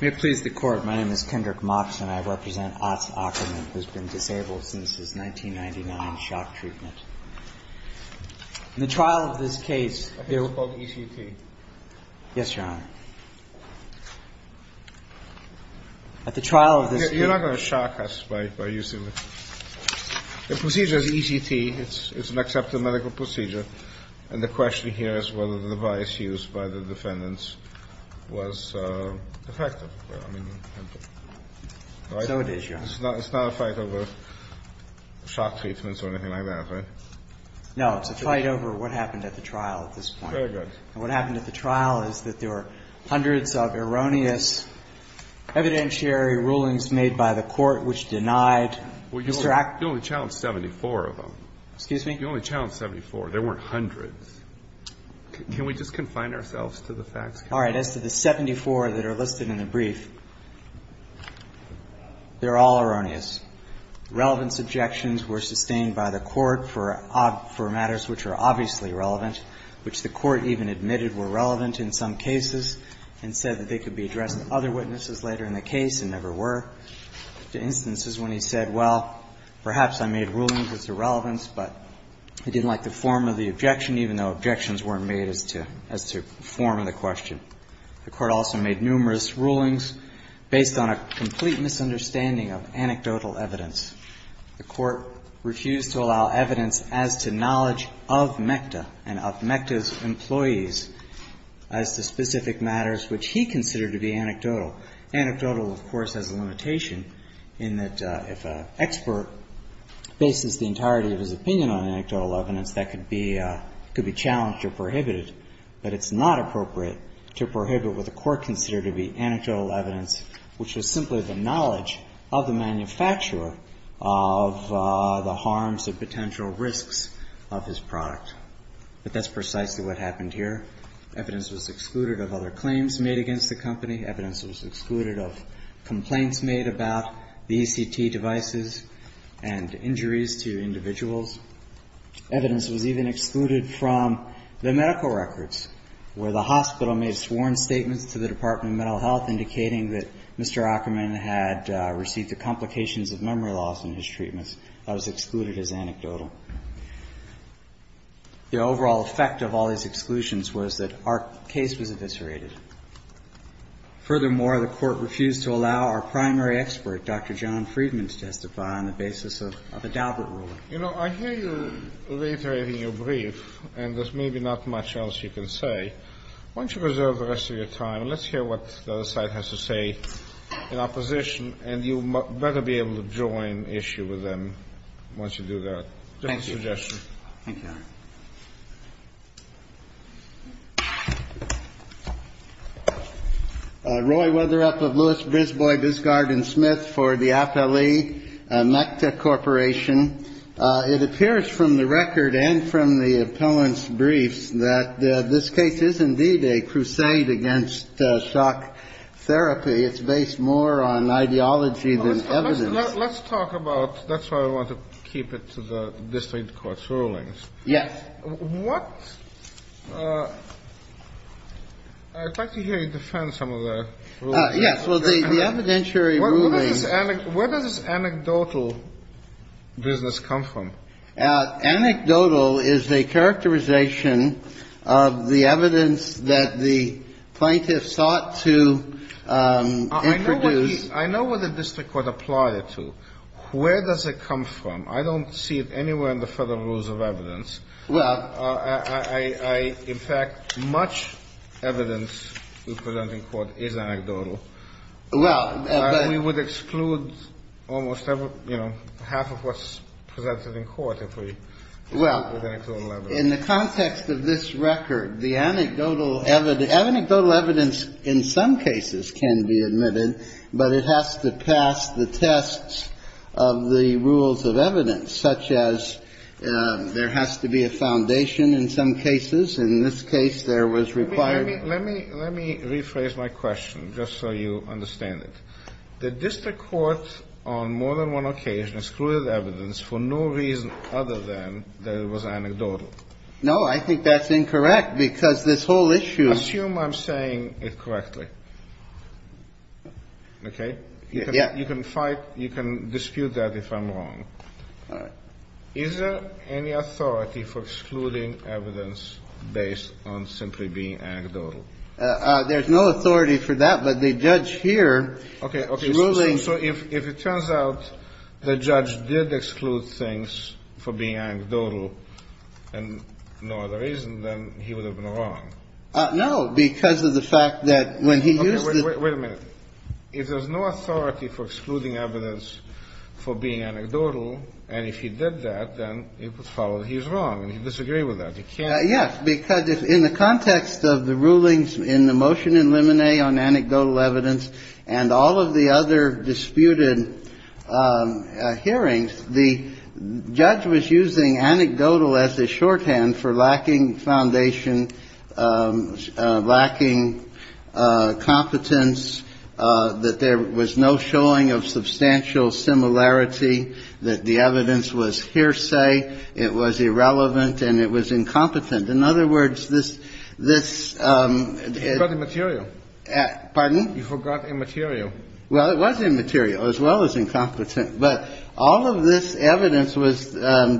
May it please the Court, my name is Kendrick Mox, and I represent Otz Akkerman who's been disabled since his 1999 shock treatment. In the trial of this case, they were called ECT. Yes, Your Honor. At the trial of this case. You're not going to shock us by using this. The procedure is ECT. It's an accepted medical procedure. And the question here is whether the device used by the defendants was effective. So it is, Your Honor. It's not a fight over shock treatments or anything like that, right? No, it's a fight over what happened at the trial at this point. Very good. And what happened at the trial is that there were hundreds of erroneous evidentiary rulings made by the Court which denied Mr. Akkerman. Well, you only challenged 74 of them. Excuse me? You only challenged 74. There weren't hundreds. Can we just confine ourselves to the facts? All right. As to the 74 that are listed in the brief, they're all erroneous. Relevance objections were sustained by the Court for matters which are obviously relevant, which the Court even admitted were relevant in some cases and said that they could be addressed to other witnesses later in the case and never were. The Court refused to allow evidence as to knowledge of MECTA and of MECTA's employees as to specific matters which he considered to be anecdotal. Anecdotal, of course, has a limitation. It's not a limitation. It's not a limitation. It's a limitation in that if an expert bases the entirety of his opinion on anecdotal evidence, that could be challenged or prohibited. But it's not appropriate to prohibit what the Court considered to be anecdotal evidence, which was simply the knowledge of the manufacturer of the harms or potential risks of his product. But that's precisely what happened here. Evidence was excluded of other claims made against the company. Evidence was excluded of complaints made about the ECT devices and injuries to individuals. Evidence was even excluded from the medical records, where the hospital made sworn statements to the Department of Mental Health indicating that Mr. Ackerman had received the complications of memory loss in his treatments. That was excluded as anecdotal. The overall effect of all these exclusions was that our case was eviscerated. Furthermore, the Court refused to allow our primary expert, Dr. John Friedman, to testify on the basis of a Daubert ruling. You know, I hear you reiterating your brief, and there's maybe not much else you can say. Why don't you reserve the rest of your time, and let's hear what the other side has to say in opposition, and you better be able to join issue with them once you do that. Just a suggestion. Thank you, Your Honor. Roy Weatherup of Lewis, Brisbois, Biscard, and Smith for the Appellee MECTA Corporation. It appears from the record and from the appellant's briefs that this case is indeed a crusade against shock therapy. It's based more on ideology than evidence. Let's talk about that's why I want to keep it to the district court's rulings. Yes. I'd like to hear you defend some of the rulings. Yes. Well, the evidentiary rulings. Where does this anecdotal business come from? Anecdotal is a characterization of the evidence that the plaintiff sought to introduce. I know what the district court applied it to. Where does it come from? I don't see it anywhere in the Federal Rules of Evidence. In fact, much evidence we present in court is anecdotal. We would exclude almost half of what's presented in court if we did anecdotal evidence. Well, in the context of this record, the anecdotal evidence in some cases can be admitted, but it has to pass the tests of the rules of evidence, such as there has to be a foundation in some cases. In this case, there was required. Let me rephrase my question just so you understand it. The district court on more than one occasion excluded evidence for no reason other than that it was anecdotal. No, I think that's incorrect because this whole issue. Assume I'm saying it correctly. Okay. Yeah. You can fight. You can dispute that if I'm wrong. All right. Is there any authority for excluding evidence based on simply being anecdotal? There's no authority for that, but the judge here ruling. Okay. So if it turns out the judge did exclude things for being anecdotal and no other reason, then he would have been wrong. No, because of the fact that when he used the. Wait a minute. If there's no authority for excluding evidence for being anecdotal, and if he did that, then it would follow that he's wrong, and he'd disagree with that. He can't. Yes, because in the context of the rulings in the motion in limine on anecdotal evidence and all of the other disputed hearings, the judge was using anecdotal as a shorthand for lacking foundation, lacking competence, that there was no showing of substantial similarity, that the evidence was hearsay, it was irrelevant, and it was incompetent. In other words, this. You forgot immaterial. Pardon? You forgot immaterial. Well, it was immaterial as well as incompetent. But all of this evidence was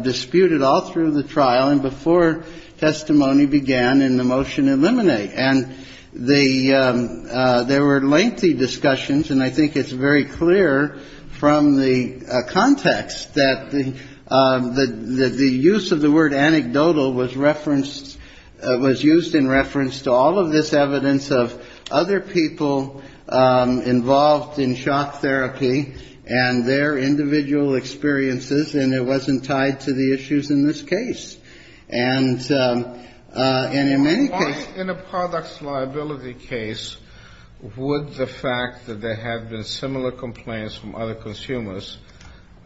disputed all through the trial and before testimony began in the motion in limine. And the there were lengthy discussions. And I think it's very clear from the context that the use of the word anecdotal was referenced, was used in reference to all of this evidence of other people involved in shock therapy and their individual experiences, and it wasn't tied to the issues in this case. And in many cases. In a products liability case, would the fact that there have been similar complaints from other consumers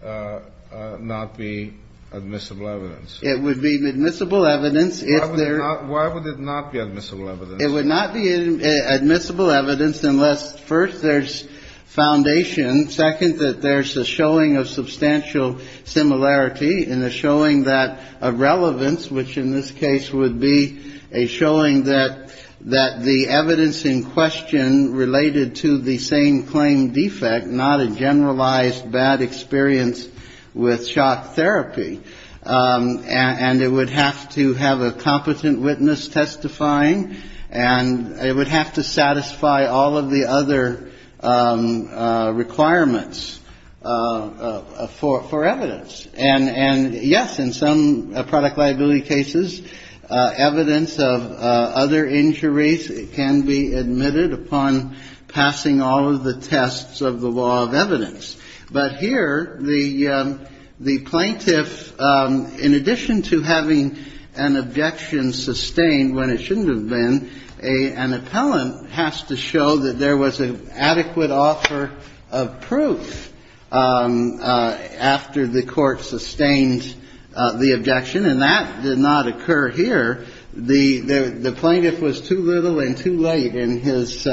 not be admissible evidence? It would be admissible evidence if there. Why would it not be admissible evidence? It would not be admissible evidence unless, first, there's foundation, second, that there's a showing of substantial similarity and a showing that irrelevance, which in this case would be a showing that the evidence in question related to the same claim defect, not a generalized bad experience with shock therapy. And it would have to have a competent witness testifying. And it would have to satisfy all of the other requirements for evidence. And, yes, in some product liability cases, evidence of other injuries can be admitted upon passing all of the tests of the law of evidence. But here, the plaintiff, in addition to having an objection sustained when it shouldn't have been, an appellant has to show that there was an adequate offer of proof after the court sustained the objection. And that did not occur here. The plaintiff was too little and too late in his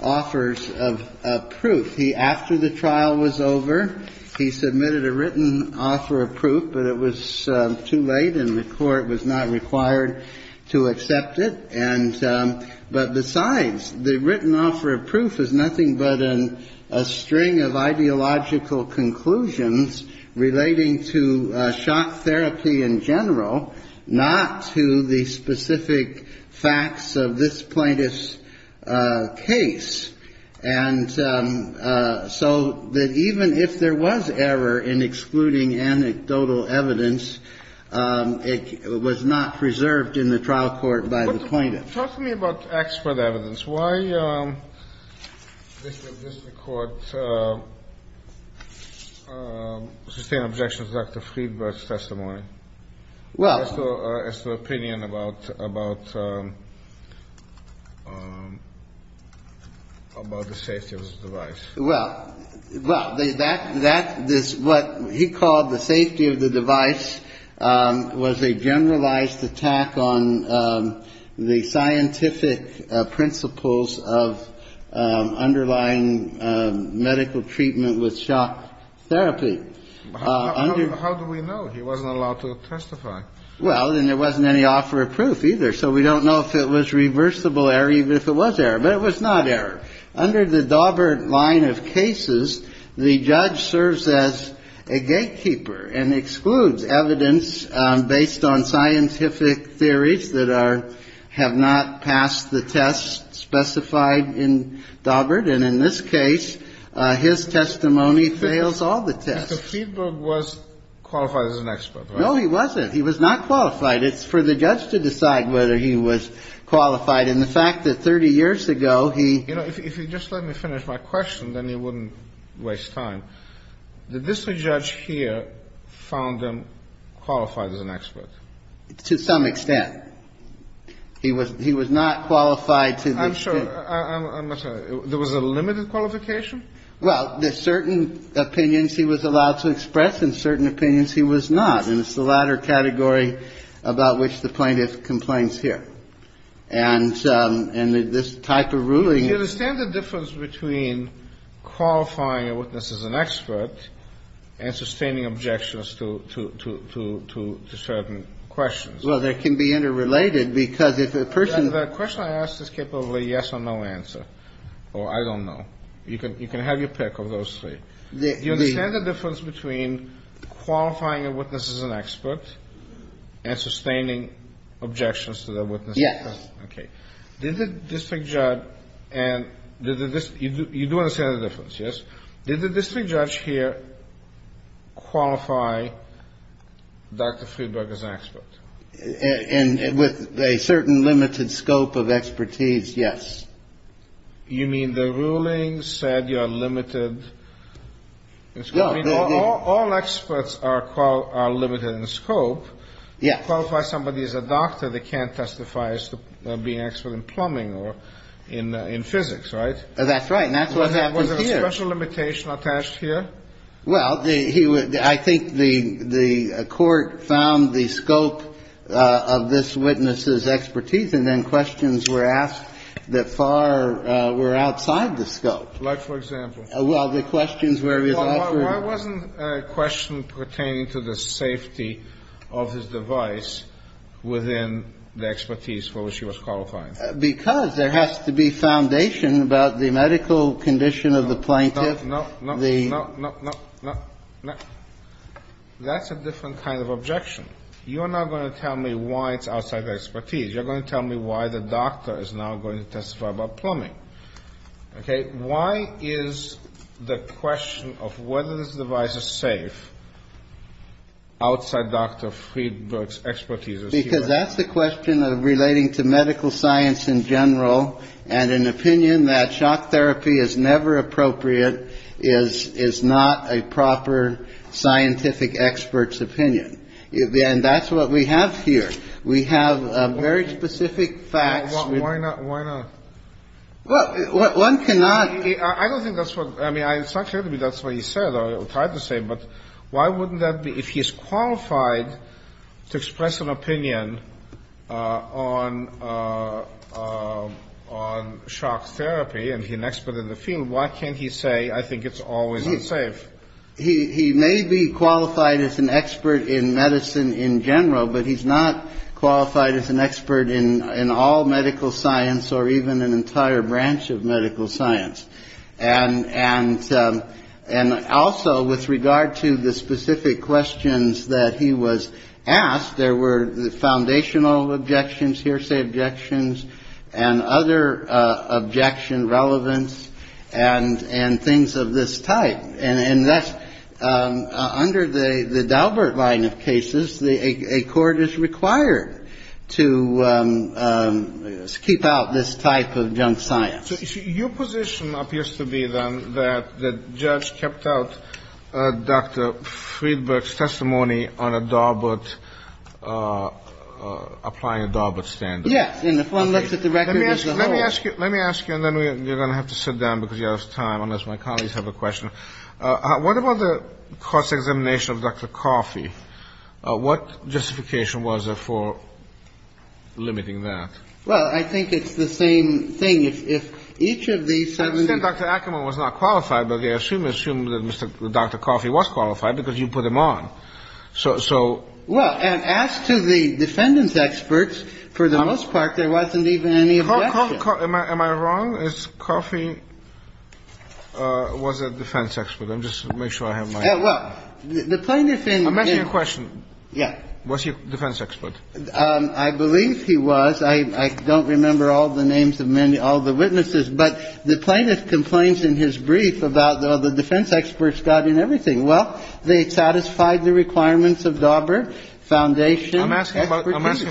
offers of proof. He, after the trial was over, he submitted a written offer of proof, but it was too late and the court was not required to accept it. And but besides, the written offer of proof is nothing but a string of ideological conclusions relating to shock therapy in general, not to the specific facts of this plaintiff's case. And so that even if there was error in excluding anecdotal evidence, it was not preserved in the trial court by the plaintiff. Talk to me about expert evidence. Why does the court sustain objections to Dr. Friedberg's testimony? Well. As to the opinion about the safety of the device. Well, well, that, that, this, what he called the safety of the device was a generalized attack on the scientific principles of underlying medical treatment with shock therapy. How do we know? He wasn't allowed to testify. Well, and there wasn't any offer of proof either. So we don't know if it was reversible error, even if it was error. But it was not error. Under the Daubert line of cases, the judge serves as a gatekeeper and excludes evidence based on scientific theories that are, have not passed the test specified in Daubert. And in this case, his testimony fails all the tests. So Friedberg was qualified as an expert, right? No, he wasn't. He was not qualified. It's for the judge to decide whether he was qualified. And the fact that 30 years ago, he ---- You know, if you just let me finish my question, then you wouldn't waste time. Did this judge here found him qualified as an expert? To some extent. He was not qualified to the extent ---- I'm sure. I'm not sure. There was a limited qualification? Well, there's certain opinions he was allowed to express and certain opinions he was not. And it's the latter category about which the plaintiff complains here. And this type of ruling ---- Do you understand the difference between qualifying a witness as an expert and sustaining objections to certain questions? Well, they can be interrelated because if the person ---- The question I asked is capable of a yes or no answer, or I don't know. You can have your pick of those three. Do you understand the difference between qualifying a witness as an expert and sustaining objections to the witness? Yes. Okay. Did the district judge and did the district ---- You do understand the difference, yes? Did the district judge here qualify Dr. Friedberg as an expert? And with a certain limited scope of expertise, yes. You mean the ruling said you are limited in scope? All experts are limited in scope. Yes. But you can't qualify somebody as a doctor that can't testify as being an expert in plumbing or in physics, right? That's right. And that's what happened here. Was there a special limitation attached here? Well, I think the court found the scope of this witness's expertise, and then questions were asked that far were outside the scope. Like, for example? Well, the questions where it was offered ---- Well, it wasn't a question pertaining to the safety of his device within the expertise for which he was qualifying. Because there has to be foundation about the medical condition of the plaintiff. No, no, no, no, no, no, no. That's a different kind of objection. You are not going to tell me why it's outside the expertise. You're going to tell me why the doctor is not going to testify about plumbing. Okay? And why is the question of whether this device is safe outside Dr. Friedberg's expertise? Because that's the question of relating to medical science in general, and an opinion that shock therapy is never appropriate is not a proper scientific expert's opinion. And that's what we have here. We have very specific facts. Why not? Well, one cannot ---- I don't think that's what ---- I mean, it's not clear to me that's what he said or tried to say. But why wouldn't that be? If he's qualified to express an opinion on shock therapy and he's an expert in the field, why can't he say, I think it's always unsafe? He may be qualified as an expert in medicine in general, but he's not qualified as an expert in all medical science or even an entire branch of medical science. And and and also with regard to the specific questions that he was asked, there were foundational objections, hearsay, objections and other objection relevance and and things of this type. And that's under the Daubert line of cases, a court is required to keep out this type of junk science. So your position appears to be, then, that the judge kept out Dr. Friedberg's testimony on a Daubert ---- applying a Daubert standard. Yes. And if one looks at the record as a whole ---- What about the cross-examination of Dr. Coffey? What justification was there for limiting that? Well, I think it's the same thing. If if each of these ---- I understand Dr. Ackerman was not qualified, but they assume that Dr. Coffey was qualified because you put him on. So so ---- Well, and as to the defendant's experts, for the most part, there wasn't even any objection. Am I wrong? Is Coffey was a defense expert? Let me just make sure I have my ---- Well, the plaintiff in ---- I'm asking you a question. Yeah. Was he a defense expert? I believe he was. I don't remember all the names of all the witnesses. But the plaintiff complains in his brief about the defense experts got in everything. Well, they satisfied the requirements of Daubert, foundation. I'm asking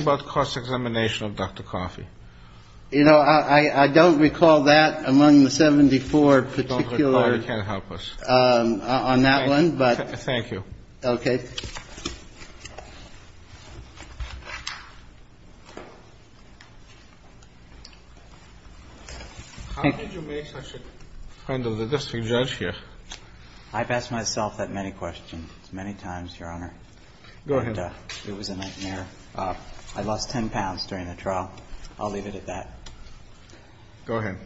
about cross-examination of Dr. Coffey. You know, I don't recall that among the 74 particular ---- I don't recall. You can't help us. On that one, but ---- Thank you. Okay. Thank you. How did you make such a friend of the district judge here? I've asked myself that many questions many times, Your Honor. Go ahead. It was a nightmare. I lost 10 pounds during the trial. I'll leave it at that. Go ahead.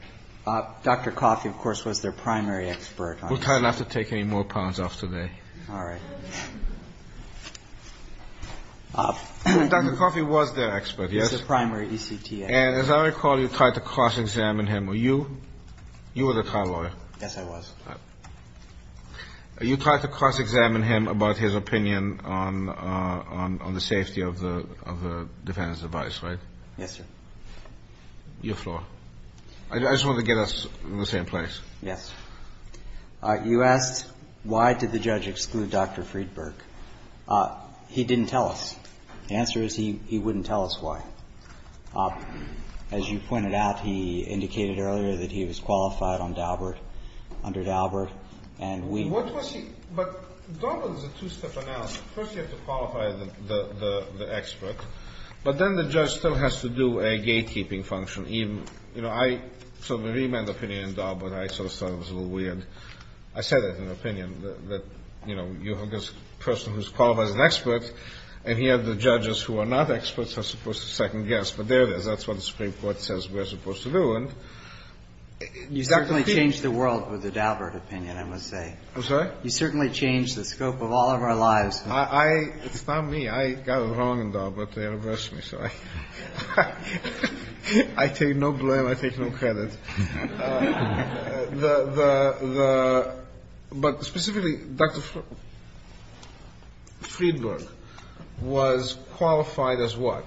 Dr. Coffey, of course, was their primary expert. We'll try not to take any more pounds off today. All right. Dr. Coffey was their expert, yes? He was their primary ECTA. And as I recall, you tried to cross-examine him. Were you? You were the trial lawyer. Yes, I was. You tried to cross-examine him about his opinion on the safety of the defendant's advice, right? Yes, sir. Your floor. I just wanted to get us in the same place. Yes. You asked why did the judge exclude Dr. Friedberg. He didn't tell us. The answer is he wouldn't tell us why. As you pointed out, he indicated earlier that he was qualified on Daubert, under Daubert. But Daubert is a two-step analysis. First, you have to qualify the expert, but then the judge still has to do a gatekeeping function. You know, I saw the remand opinion in Daubert. I sort of thought it was a little weird. I said that in an opinion that, you know, you have this person who's qualified as an expert, and yet the judges who are not experts are supposed to second-guess. But there it is. That's what the Supreme Court says we're supposed to do. You certainly changed the world with the Daubert opinion, I must say. I'm sorry? You certainly changed the scope of all of our lives. It's not me. I got it wrong in Daubert. They reversed me, so I take no blame. I take no credit. But specifically, Dr. Friedberg was qualified as what?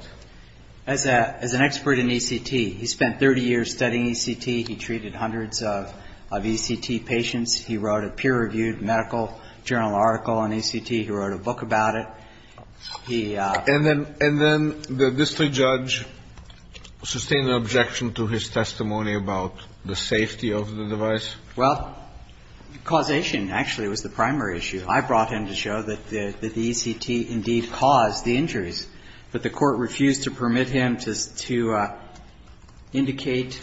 As an expert in ECT. He spent 30 years studying ECT. He treated hundreds of ECT patients. He wrote a peer-reviewed medical journal article on ECT. He wrote a book about it. And then the district judge sustained an objection to his testimony about the safety of the device? Well, causation, actually, was the primary issue. I brought in to show that the ECT indeed caused the injuries, but the Court refused to permit him to indicate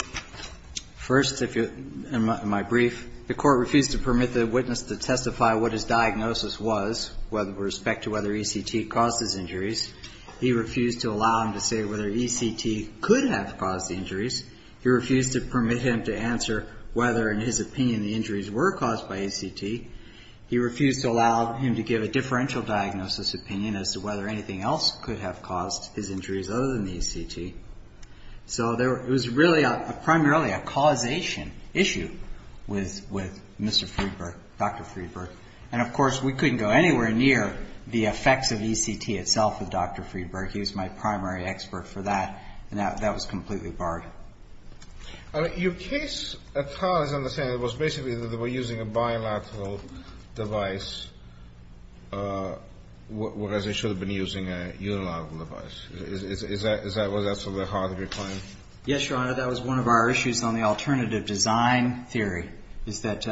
first, in my brief, the Court refused to permit the witness to testify what his diagnosis was with respect to whether ECT caused his injuries. He refused to allow him to say whether ECT could have caused the injuries. He refused to permit him to answer whether, in his opinion, the injuries were caused by ECT. He refused to allow him to give a differential diagnosis opinion as to whether anything else could have caused his injuries other than the ECT. So it was really primarily a causation issue with Mr. Friedberg, Dr. Friedberg. And, of course, we couldn't go anywhere near the effects of ECT itself with Dr. Friedberg. He was my primary expert for that, and that was completely barred. Your case, as far as I understand it, was basically that they were using a bilateral device, whereas they should have been using a unilateral device. Is that something that's hard to reclaim? Yes, Your Honor. That was one of our issues on the alternative design theory, is that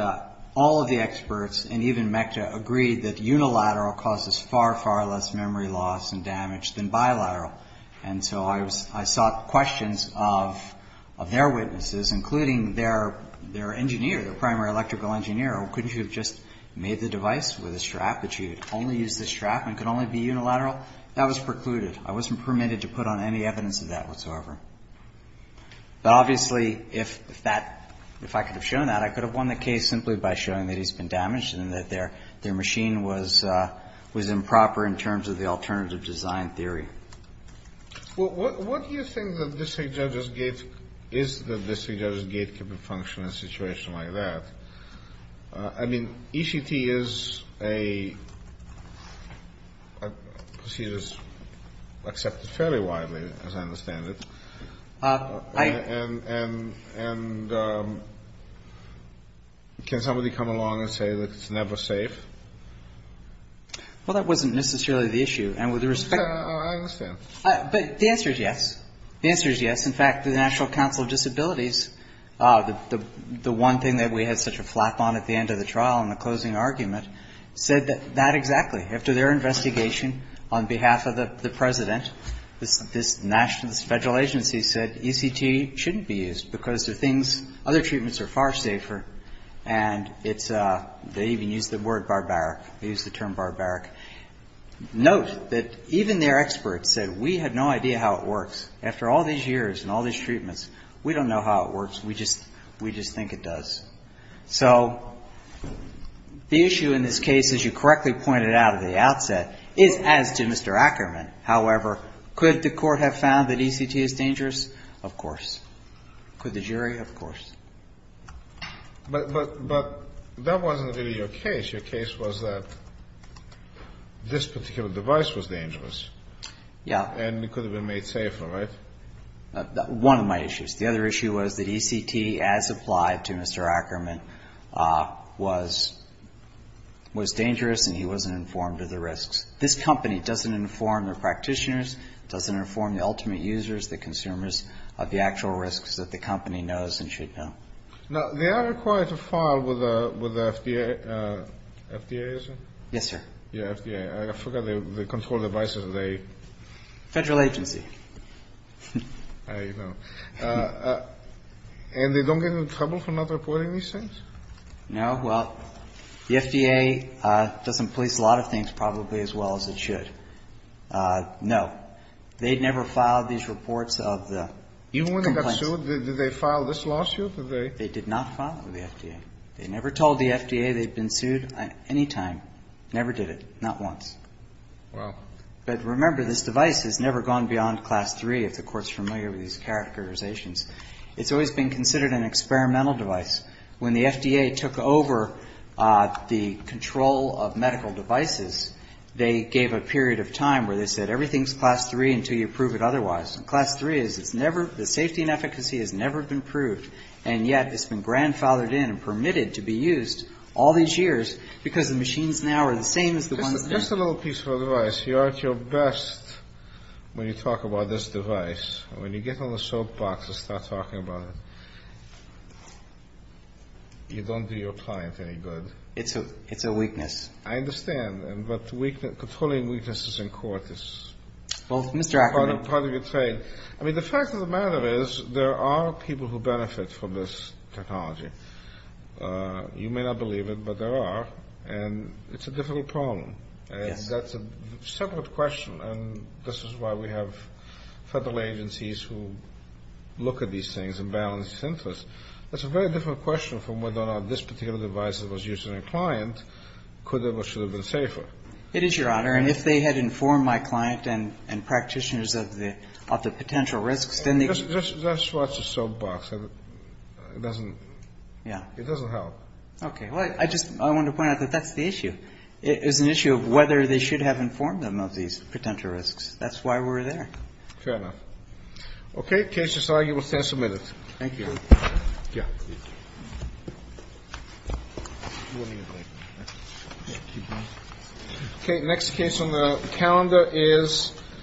all of the experts, and even MECTA, agreed that unilateral causes far, far less memory loss and damage than bilateral. And so I sought questions of their witnesses, including their engineer, their primary electrical engineer. Couldn't you have just made the device with a strap that you'd only use the strap and it could only be unilateral? That was precluded. I wasn't permitted to put on any evidence of that whatsoever. But, obviously, if that — if I could have shown that, I could have won the case simply by showing that he's been damaged and that their machine was improper in terms of the alternative design theory. Well, what do you think the district judge's gate is that the district judge's gate could be functioning in a situation like that? I mean, ECT is a procedure that's accepted fairly widely, as I understand it. And can somebody come along and say that it's never safe? Well, that wasn't necessarily the issue. And with respect to — I understand. But the answer is yes. The answer is yes. In fact, the National Council of Disabilities, the one thing that we had such a flap on at the end of the trial in the closing argument, said that — that exactly. After their investigation, on behalf of the President, this national — this federal agency said ECT shouldn't be used because there are things — other treatments are far safer. And it's — they even used the word barbaric. They used the term barbaric. Note that even their experts said, we have no idea how it works. After all these years and all these treatments, we don't know how it works. We just — we just think it does. So the issue in this case, as you correctly pointed out at the outset, is as to Mr. Ackerman. However, could the Court have found that ECT is dangerous? Of course. Could the jury? Of course. But that wasn't really your case. Your case was that this particular device was dangerous. Yeah. And it could have been made safer, right? One of my issues. The other issue was that ECT, as applied to Mr. Ackerman, was dangerous and he wasn't informed of the risks. This company doesn't inform their practitioners, doesn't inform the ultimate users, the consumers of the actual risks that the company knows and should know. Now, they are required to file with the FDA, isn't it? Yes, sir. Yeah, FDA. I forgot the control devices they — Federal agency. I know. And they don't get into trouble for not reporting these things? No. Well, the FDA doesn't police a lot of things probably as well as it should. No. But they never filed these reports of the complaints. Even when they got sued, did they file this lawsuit? Did they? They did not file it with the FDA. They never told the FDA they'd been sued any time. Never did it. Not once. Wow. But remember, this device has never gone beyond Class III, if the Court's familiar with these characterizations. It's always been considered an experimental device. When the FDA took over the control of medical devices, they gave a period of time where they said, everything's Class III until you prove it otherwise. And Class III is, it's never — the safety and efficacy has never been proved, and yet it's been grandfathered in and permitted to be used all these years because the machines now are the same as the ones then. Just a little piece of advice. You are at your best when you talk about this device. When you get on the soapbox and start talking about it, you don't do your client any good. It's a weakness. I understand. But controlling weaknesses in court is part of your trade. I mean, the fact of the matter is there are people who benefit from this technology. You may not believe it, but there are. And it's a difficult problem. Yes. That's a separate question, and this is why we have federal agencies who look at these things and balance interests. That's a very different question from whether or not this particular device that was used on a client could have or should have been safer. It is, Your Honor. And if they had informed my client and practitioners of the potential risks, then they could have. Just watch the soapbox. It doesn't — Yeah. It doesn't help. Okay. Well, I just wanted to point out that that's the issue. It is an issue of whether they should have informed them of these potential risks. That's why we're there. Fair enough. Okay. The case is argued. We'll stand some minutes. Thank you. Yeah. Okay. Next case on the calendar is